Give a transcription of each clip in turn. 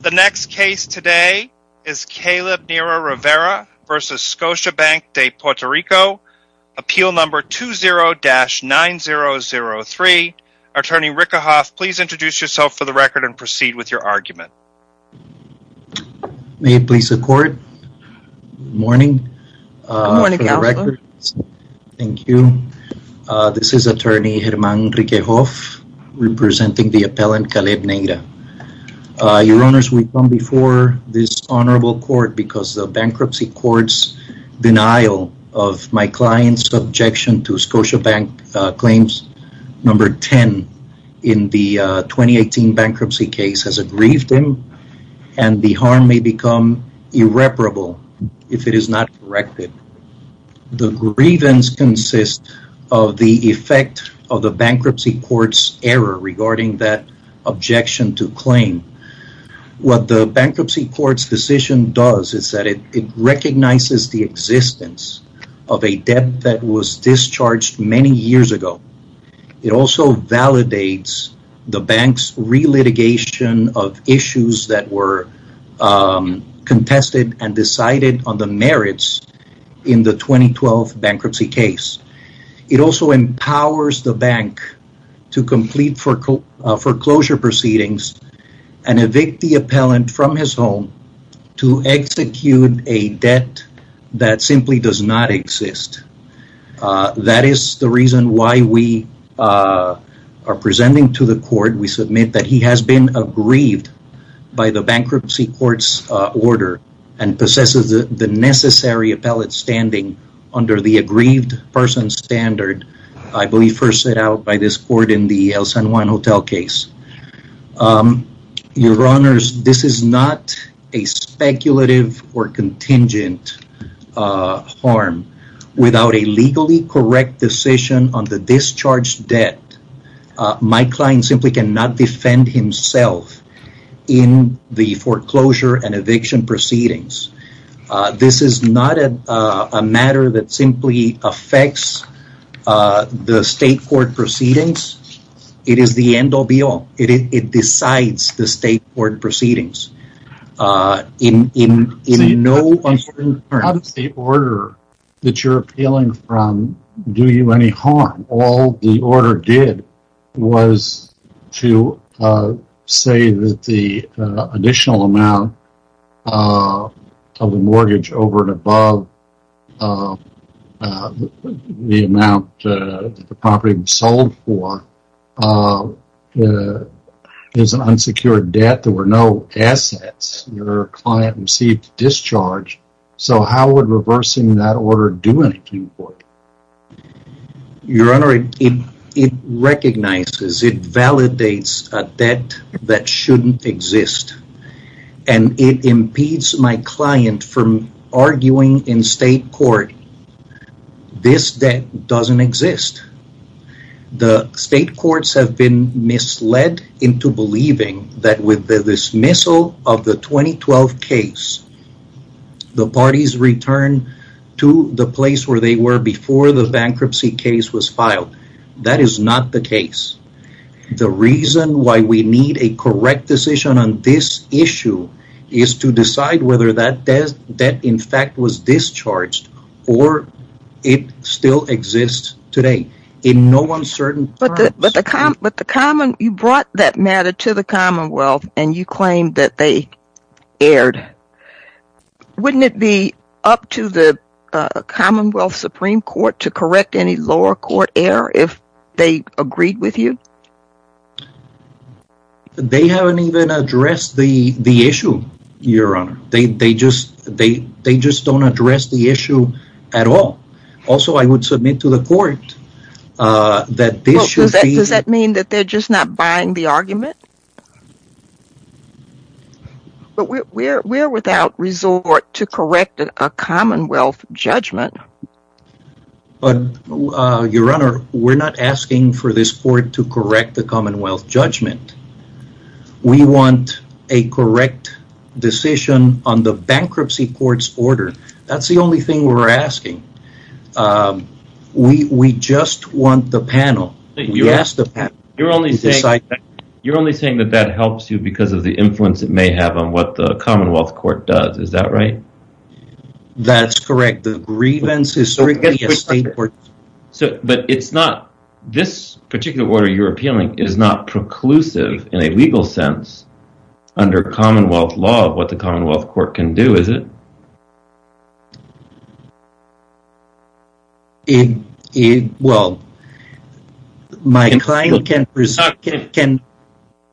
The next case today is Caleb Neira Rivera v. Scotiabank de Puerto Rico, Appeal No. 20-9003. Attorney Rickehoff, please introduce yourself for the record and proceed with your argument. May it please the court. Good morning. Good morning, Counselor. Thank you. This is Attorney Germán Rickehoff representing the appellant Caleb Neira. Your Honors, we come before this honorable court because the bankruptcy court's denial of my client's objection to Scotiabank claims No. 10 in the 2018 bankruptcy case has aggrieved him and the harm may become irreparable if it is not corrected. The grievance consists of the effect of the bankruptcy court's error regarding that objection to claim. What the bankruptcy court's decision does is that it recognizes the existence of a debt that was discharged many years ago. It also validates the bank's relitigation of issues that were contested and decided on the merits in the 2012 bankruptcy case. It also empowers the bank to complete foreclosure proceedings and evict the appellant from his home to execute a debt that simply does not exist. That is the reason why we are presenting to the court, we submit that he has been aggrieved by the bankruptcy court's order and possesses the necessary appellate standing under the aggrieved person standard, I believe first set out by this court in the El San Juan Hotel case. Your honors, this is not a speculative or contingent harm. Without a legally correct decision on the discharged debt, my client simply cannot defend himself in the foreclosure and eviction proceedings. This is not a matter that simply affects the state court proceedings. It is the end all be all. It decides the state court proceedings. How does the order that you are appealing from do you any harm? All the order did was to say that the additional amount of the mortgage over and above the amount that the property was sold for is an unsecured debt. There were no assets. Your client received a discharge, so how would reversing that order do anything for you? Your honor, it recognizes, it validates a debt that should not exist and it impedes my client from arguing in state court this debt does not exist. The state courts have been misled into believing that with the dismissal of the 2012 case, the parties returned to the place where they were before the bankruptcy case was filed. That is not the case. The reason why we need a correct decision on this issue is to decide whether that debt in fact was discharged or it still exists today. You brought that matter to the commonwealth and you claimed that they erred. Wouldn't it be up to the commonwealth supreme court to correct any lower court error if they agreed with you? They haven't even addressed the issue, your honor. They just don't address the issue at all. Also, I would submit to the court that this should be... Does that mean that they're just not buying the argument? We're without resort to correct a commonwealth judgment. Your honor, we're not asking for this court to correct the commonwealth judgment. We want a correct decision on the bankruptcy court's order. That's the only thing we're asking. We just want the panel. You're only saying that that helps you because of the influence it may have on what the commonwealth court does. Is that right? That's correct. The grievance is strictly a state court... But it's not... This particular order you're appealing is not preclusive in a legal sense under commonwealth law of what the commonwealth court can do, is it? Well, my client can...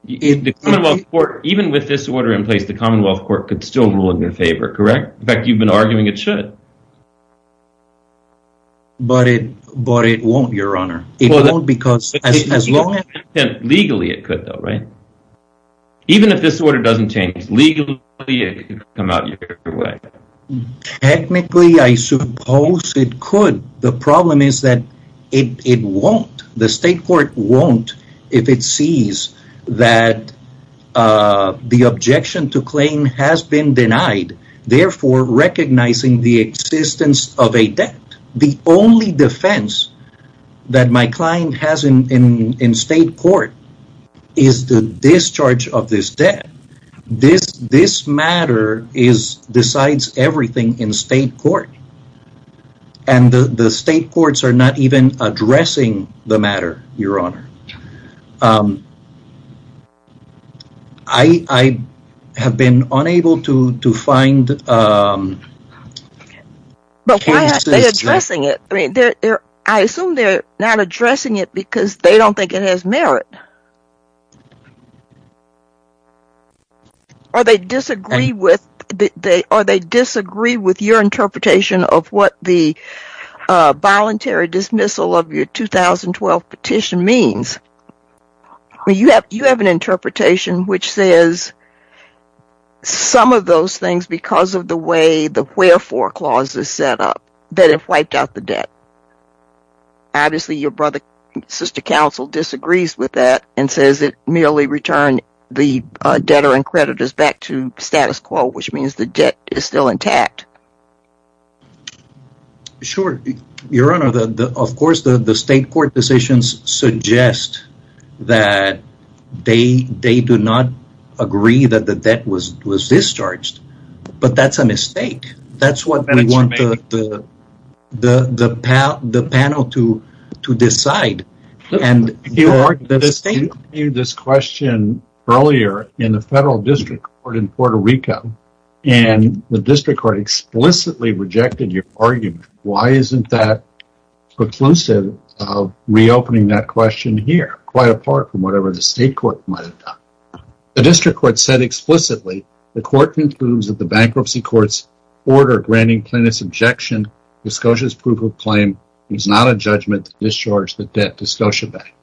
Even with this order in place, the commonwealth court could still rule in your favor, correct? In fact, you've been arguing it should. But it won't, your honor. It won't because as long as... Legally it could though, right? Even if this order doesn't change legally, it could come out your way. Technically, I suppose it could. The problem is that it won't. The state court won't if it sees that the objection to claim has been denied. Therefore, recognizing the existence of a debt. The only defense that my client has in state court is the discharge of this debt. This matter decides everything in state court. And the state courts are not even addressing the matter, your honor. I have been unable to find... But why aren't they addressing it? I assume they're not addressing it because they don't think it has merit. Or they disagree with your interpretation of what the voluntary dismissal of your 2012 petition means. You have an interpretation which says some of those things because of the way the wherefore clause is set up. That it wiped out the debt. Obviously, your brother and sister counsel disagrees with that. And says it merely returned the debtor and creditors back to status quo. Which means the debt is still intact. Sure, your honor. Of course, the state court decisions suggest that they do not agree that the debt was discharged. But that's a mistake. That's what we want the panel to decide. You argued this question earlier in the federal district court in Puerto Rico. And the district court explicitly rejected your argument. Why isn't that reclusive of reopening that question here? Quite apart from whatever the state court might have done. The district court said explicitly, the court concludes that the bankruptcy court's order granting plaintiff's objection to SCOTIA's proof of claim is not a judgment to discharge the debt to SCOTIA Bank.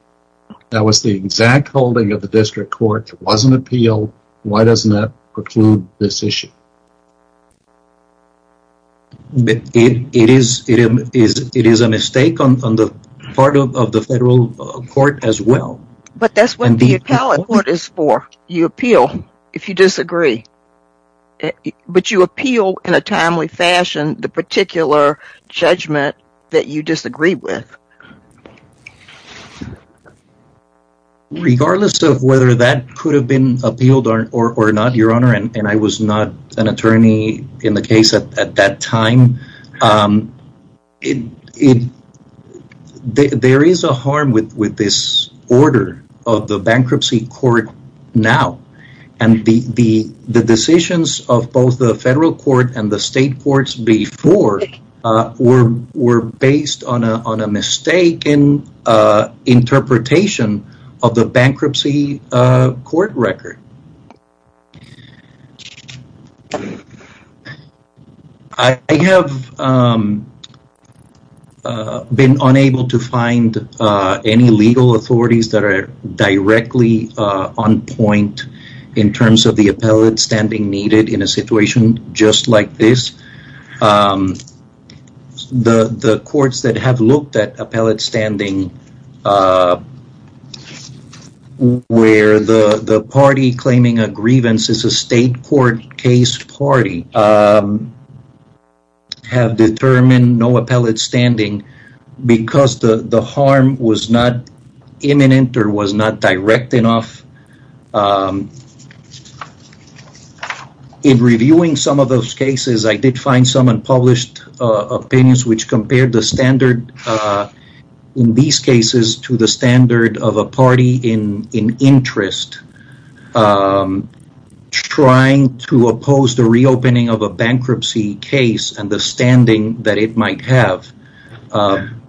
That was the exact holding of the district court. It wasn't appealed. Why doesn't that preclude this issue? It is a mistake on the part of the federal court as well. But that's what the appellate court is for. You appeal if you disagree. But you appeal in a timely fashion the particular judgment that you disagree with. Regardless of whether that could have been appealed or not, your honor, and I was not an attorney in the case at that time. There is a harm with this order of the bankruptcy court now. And the decisions of both the federal court and the state courts before were based on a mistake in interpretation of the bankruptcy court record. I have been unable to find any legal authorities that are directly on point in terms of the appellate standing needed in a situation just like this. The courts that have looked at appellate standing where the party claiming a grievance is a state court case party have determined no appellate standing because the harm was not imminent or was not direct enough. In reviewing some of those cases, I did find some unpublished opinions which compared the standard in these cases to the standard of a party in interest trying to oppose the reopening of a bankruptcy case and the standing that it might have.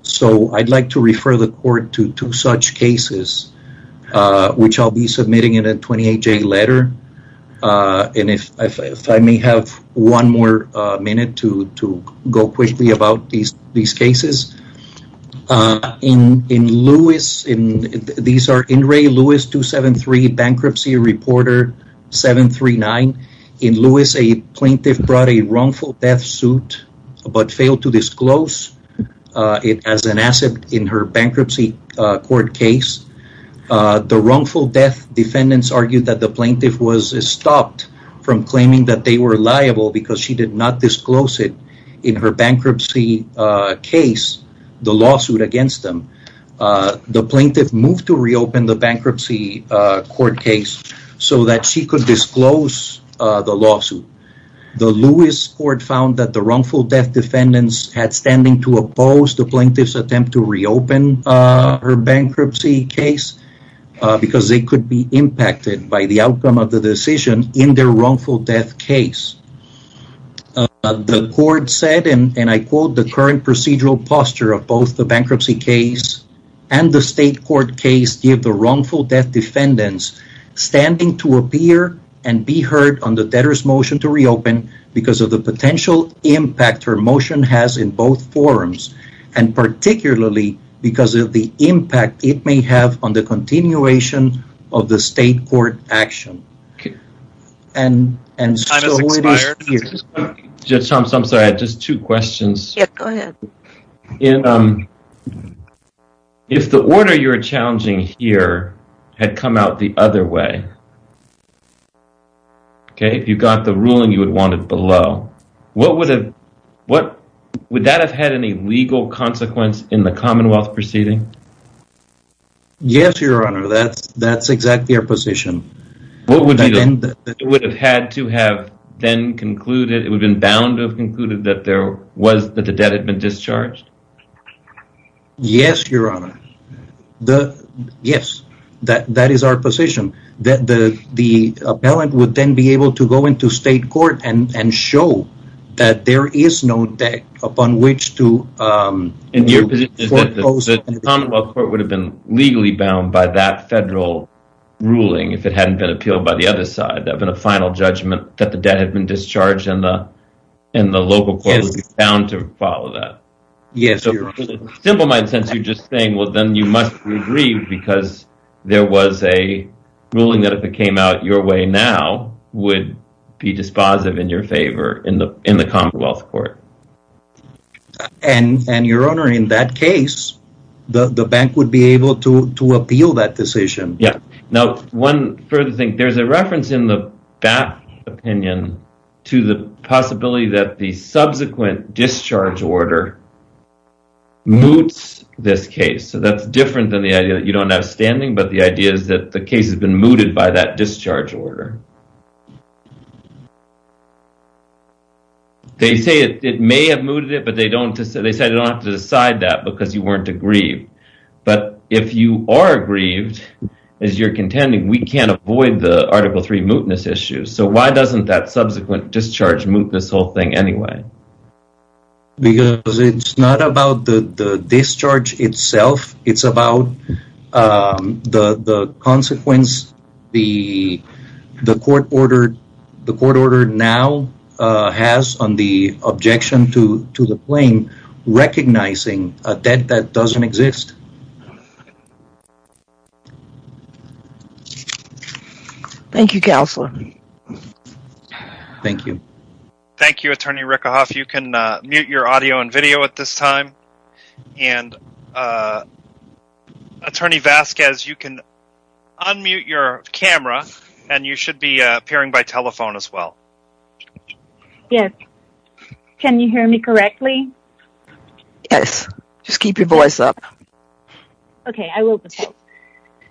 So I'd like to refer the court to two such cases which I'll be submitting in a 28-J letter. And if I may have one more minute to go quickly about these cases. In Lewis, these are Inray Lewis 273 bankruptcy reporter 739. In Lewis, a plaintiff brought a wrongful death suit but failed to disclose it as an asset in her bankruptcy court case. The wrongful death defendants argued that the plaintiff was stopped from claiming that they were liable because she did not disclose it in her bankruptcy case, the lawsuit against them. The plaintiff moved to reopen the bankruptcy court case so that she could disclose the lawsuit. The Lewis court found that the wrongful death defendants had standing to oppose the plaintiff's attempt to reopen her bankruptcy case because they could be impacted by the outcome of the decision in their wrongful death case. The court said and I quote the current procedural posture of both the bankruptcy case and the state court case give the wrongful death defendants standing to appear and be heard on the debtor's motion to reopen because of the potential impact her motion has in both forums and particularly because of the impact it may have on the continuation of the state court action. If the order you are challenging here had come out the other way, if you got the ruling you would want it below, would that have had any legal consequence in the commonwealth proceeding? Yes your honor that's exactly our position. It would have had to have been concluded, it would have been bound to have concluded that the debt had been discharged? Yes your honor, yes that is our position. The appellant would then be able to go into state court and show that there is no debt upon which to… Your position is that the commonwealth court would have been legally bound by that federal ruling if it hadn't been appealed by the other side of the final judgment that the debt had been discharged and the local court would be bound to follow that? Yes your honor. Simple in my sense you are just saying well then you must agree because there was a ruling that if it came out your way now would be dispositive in your favor in the commonwealth court? And your honor in that case the bank would be able to appeal that decision. Now one further thing, there is a reference in the BAPT opinion to the possibility that the subsequent discharge order moots this case. So that's different than the idea that you don't have standing but the idea is that the case has been mooted by that discharge order. They say it may have mooted it but they don't have to decide that because you weren't aggrieved. But if you are aggrieved as you are contending we can't avoid the article 3 mootness issue. So why doesn't that subsequent discharge moot this whole thing anyway? Because it's not about the discharge itself it's about the consequence the court order now has on the objection to the claim recognizing a debt that doesn't exist. Thank you counselor. Thank you. Thank you attorney Rickahoff. You can mute your audio and video at this time. And attorney Vasquez you can unmute your camera and you should be appearing by telephone as well. Yes. Can you hear me correctly? Yes. Just keep your voice up. Okay I will.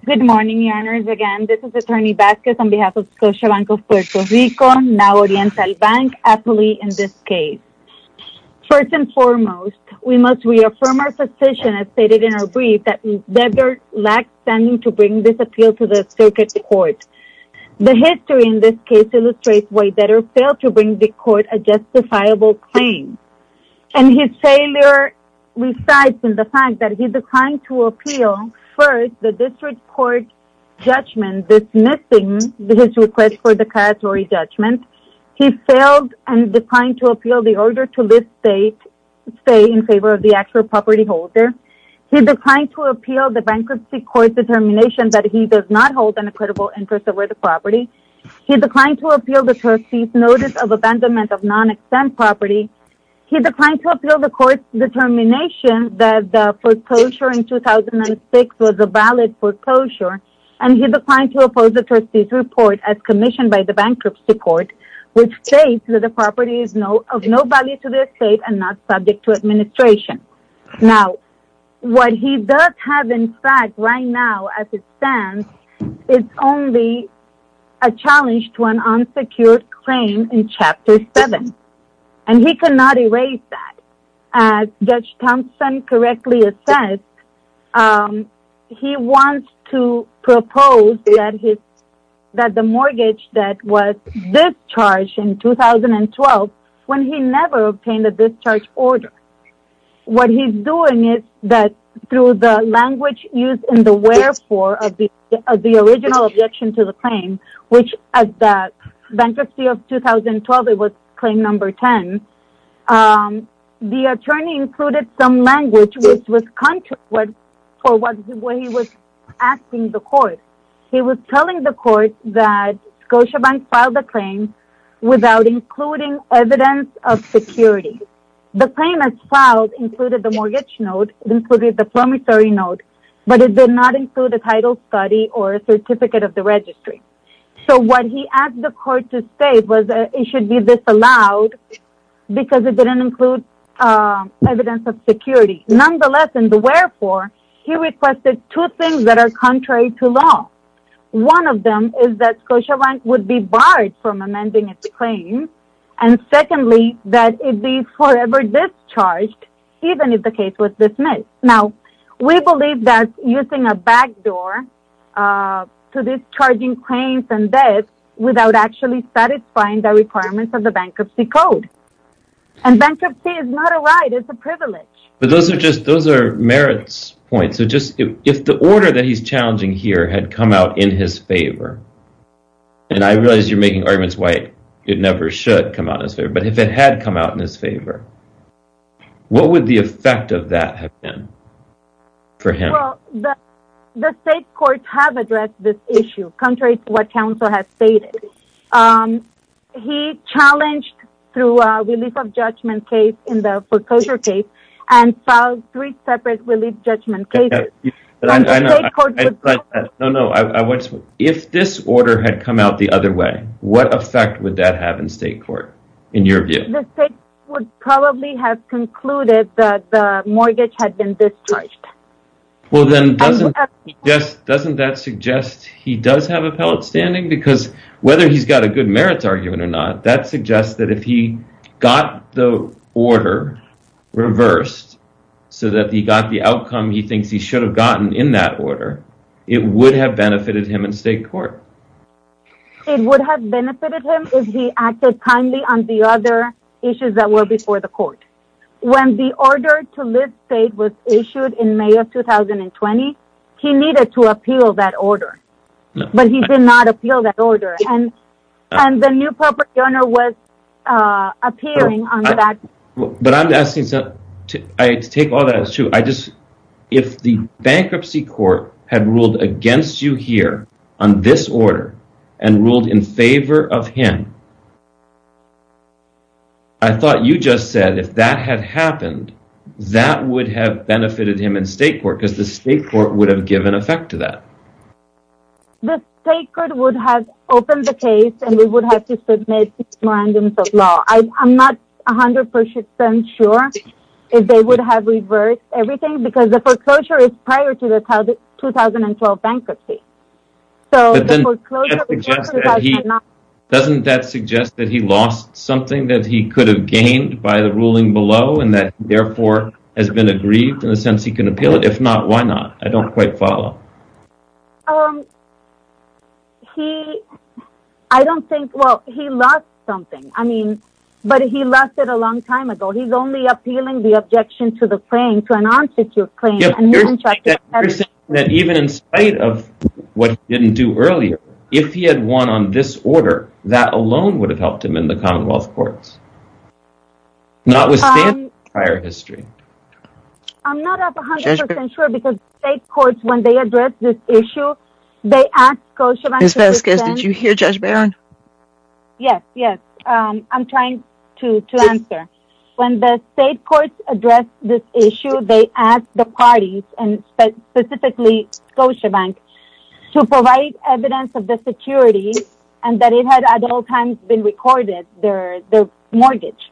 Good morning your honors again. This is attorney Vasquez on behalf of Social Bank of Puerto Rico now Oriental Bank aptly in this case. First and foremost we must reaffirm our position as stated in our brief that we never lacked standing to bring this appeal to the circuit court. The history in this case illustrates why debtors fail to bring the court a justifiable claim. And his failure resides in the fact that he declined to appeal first the district court judgment dismissing his request for the casualty judgment. He failed and declined to appeal the order to lift state in favor of the actual property holder. He declined to appeal the bankruptcy court determination that he does not hold an equitable interest over the property. He declined to appeal the trustee's notice of abandonment of non-exempt property. He declined to appeal the court's determination that the foreclosure in 2006 was a valid foreclosure. And he declined to oppose the trustee's report as commissioned by the bankruptcy court which states that the property is of no value to the state and not subject to administration. Now what he does have in fact right now as it stands is only a challenge to an unsecured claim in chapter 7. And he cannot erase that. As Judge Thompson correctly assessed he wants to propose that the mortgage that was discharged in 2012 when he never obtained a discharge order. What he's doing is that through the language used in the wherefore of the original objection to the claim which at the bankruptcy of 2012 it was claim number 10. The attorney included some language which was contrary to what he was asking the court. He was telling the court that Scotiabank filed the claim without including evidence of security. The claim as filed included the mortgage note, included the promissory note, but it did not include a title study or a certificate of the registry. So what he asked the court to state was that it should be disallowed because it didn't include evidence of security. Nonetheless in the wherefore he requested two things that are contrary to law. One of them is that Scotiabank would be barred from amending its claim and secondly that it be forever discharged even if the case was dismissed. Now we believe that using a backdoor to discharging claims and debts without actually satisfying the requirements of the bankruptcy code. And bankruptcy is not a right, it's a privilege. But those are just merits points. If the order that he's challenging here had come out in his favor, and I realize you're making arguments why it never should come out in his favor, but if it had come out in his favor, what would the effect of that have been for him? The state courts have addressed this issue contrary to what counsel has stated. He challenged through a relief of judgment case in the foreclosure case and filed three separate relief judgment cases. If this order had come out the other way, what effect would that have in state court in your view? The state would probably have concluded that the mortgage had been discharged. Well then doesn't that suggest he does have appellate standing? Because whether he's got a good merits argument or not, that suggests that if he got the order reversed so that he got the outcome he thinks he should have gotten in that order, it would have benefited him in state court. It would have benefited him if he acted kindly on the other issues that were before the court. When the order to lift state was issued in May of 2020, he needed to appeal that order. But he did not appeal that order and the new property owner was appealing on that. If the bankruptcy court had ruled against you here on this order and ruled in favor of him, I thought you just said if that had happened, that would have benefited him in state court because the state court would have given effect to that. The state court would have opened the case and we would have to submit a memorandum of law. I'm not 100% sure if they would have reversed everything because the foreclosure is prior to the 2012 bankruptcy. Doesn't that suggest that he lost something that he could have gained by the ruling below and therefore has been aggrieved in the sense that he can appeal it? If not, why not? I don't quite follow. He, I don't think, well, he lost something. I mean, but he lost it a long time ago. He's only appealing the objection to the claim, to an arms issue claim. You're saying that even in spite of what he didn't do earlier, if he had won on this order, that alone would have helped him in the commonwealth courts. Not with standing in prior history. I'm not 100% sure because state courts, when they address this issue, they ask Scotiabank... Ms. Vasquez, did you hear Judge Barron? Yes, yes. I'm trying to answer. When the state courts address this issue, they ask the parties and specifically Scotiabank to provide evidence of the security and that it had at all times been recorded, their mortgage.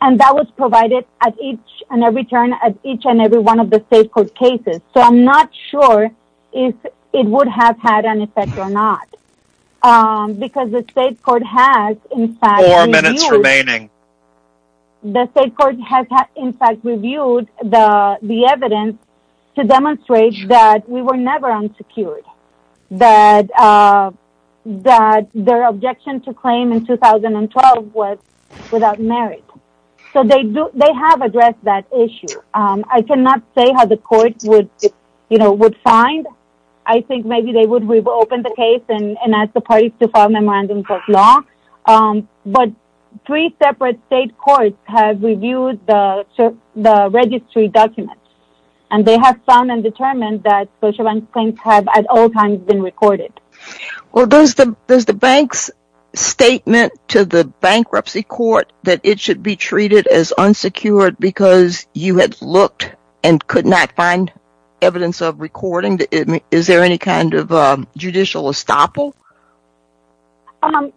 And that was provided at each and every turn at each and every one of the state court cases. So I'm not sure if it would have had an effect or not. Because the state court has in fact... Four minutes remaining. The state court has in fact reviewed the evidence to demonstrate that we were never unsecured. That their objection to claim in 2012 was without merit. So they have addressed that issue. I cannot say how the court would find. I think maybe they would reopen the case and ask the parties to file memorandums of law. But three separate state courts have reviewed the registry documents. And they have found and determined that Scotiabank claims have at all times been recorded. Does the bank's statement to the bankruptcy court that it should be treated as unsecured because you had looked and could not find evidence of recording, is there any kind of judicial estoppel?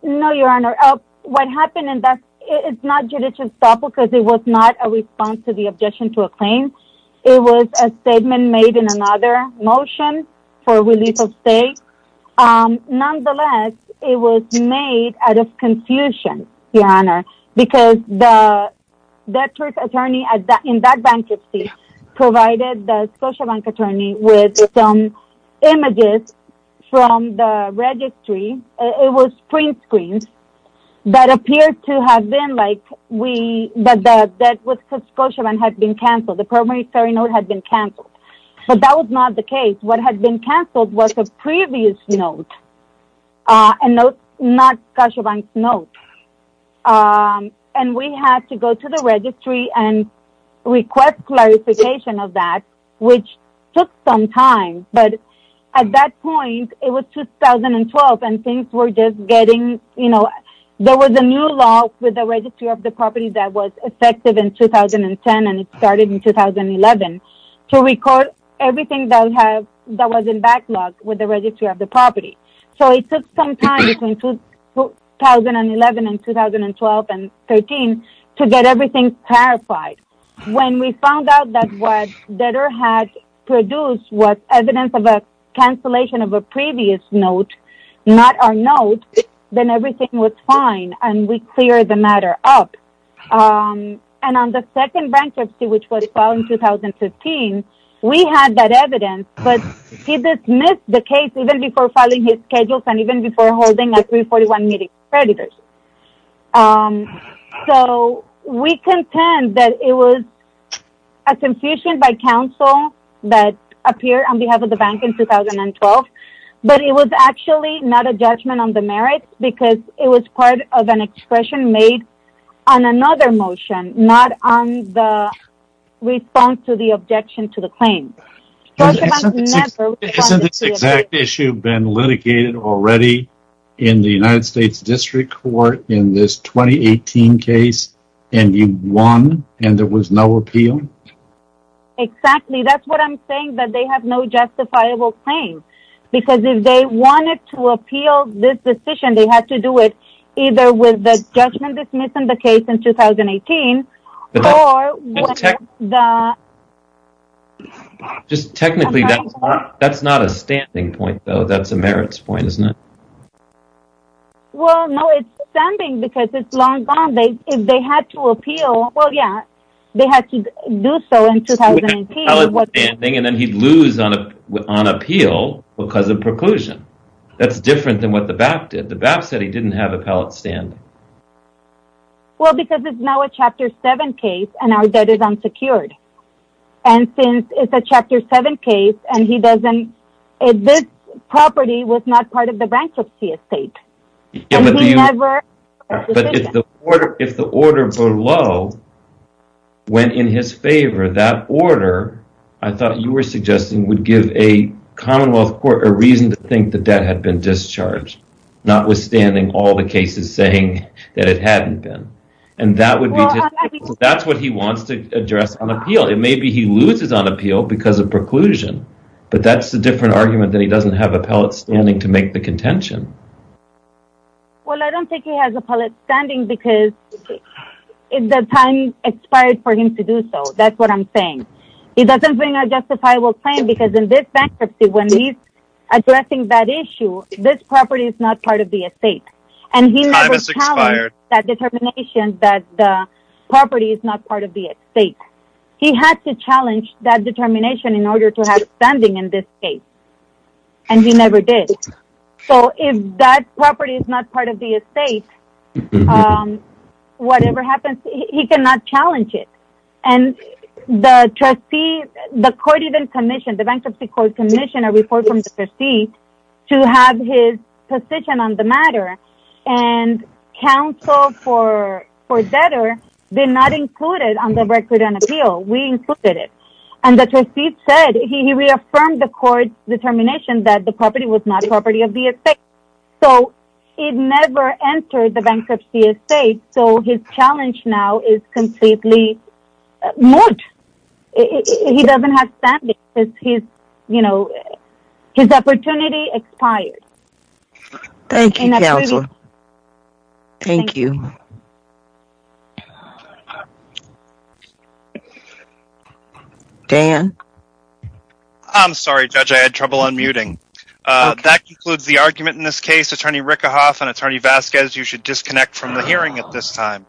No, your honor. What happened is not judicial estoppel because it was not a response to the objection to a claim. It was a statement made in another motion for release of state. Nonetheless, it was made out of confusion, your honor. Because the debtor's attorney in that bankruptcy provided the Scotiabank attorney with some images from the registry. It was print screens that appeared to have been like the debt with Scotiabank had been cancelled. The primary ferry note had been cancelled. But that was not the case. What had been cancelled was a previous note. A note not Scotiabank's note. And we had to go to the registry and request clarification of that. Which took some time. But at that point, it was 2012 and things were just getting, you know. There was a new law with the registry of the property that was effective in 2010 and it started in 2011. To record everything that was in backlog with the registry of the property. So it took some time between 2011 and 2012 and 2013 to get everything clarified. When we found out that what debtor had produced was evidence of a cancellation of a previous note, not our note. Then everything was fine and we cleared the matter up. And on the second bankruptcy which was filed in 2015, we had that evidence. But he dismissed the case even before filing his schedule and even before holding a 341 meeting with creditors. So we contend that it was a confusion by counsel that appeared on behalf of the bank in 2012. But it was actually not a judgment on the merits because it was part of an expression made on another motion. Not on the response to the objection to the claim. Hasn't this exact issue been litigated already in the United States District Court in this 2018 case? And you won and there was no appeal? Exactly. That's what I'm saying that they have no justifiable claim. Because if they wanted to appeal this decision, they had to do it either with the judgment dismissing the case in 2018. Just technically that's not a standing point though, that's a merits point, isn't it? Well no, it's standing because it's long gone. If they had to appeal, well yeah, they had to do so in 2018. And then he'd lose on appeal because of preclusion. That's different than what the BAP did. The BAP said he didn't have appellate standing. Well because it's now a Chapter 7 case and our debt is unsecured. And since it's a Chapter 7 case and this property was not part of the bankruptcy estate. But if the order below went in his favor, that order, I thought you were suggesting, would give a commonwealth court a reason to think the debt had been discharged. Notwithstanding all the cases saying that it hadn't been. And that's what he wants to address on appeal. It may be he loses on appeal because of preclusion. But that's a different argument that he doesn't have appellate standing to make the contention. Well I don't think he has appellate standing because the time expired for him to do so. That's what I'm saying. He doesn't bring a justifiable claim because in this bankruptcy when he's addressing that issue, this property is not part of the estate. And he never challenged that determination that the property is not part of the estate. He had to challenge that determination in order to have standing in this case. And he never did. So if that property is not part of the estate, whatever happens, he cannot challenge it. And the trustee, the court even commissioned, the bankruptcy court commissioned a report from the trustee to have his position on the matter. And counsel for debtor did not include it on the record on appeal. We included it. And the trustee said, he reaffirmed the court's determination that the property was not property of the estate. So it never entered the bankruptcy estate, so his challenge now is completely moot. He doesn't have standing. His opportunity expired. Thank you counsel. Thank you. Dan? I'm sorry Judge, I had trouble unmuting. That concludes the argument in this case. Attorney Rickahoff and Attorney Vasquez, you should disconnect from the hearing at this time.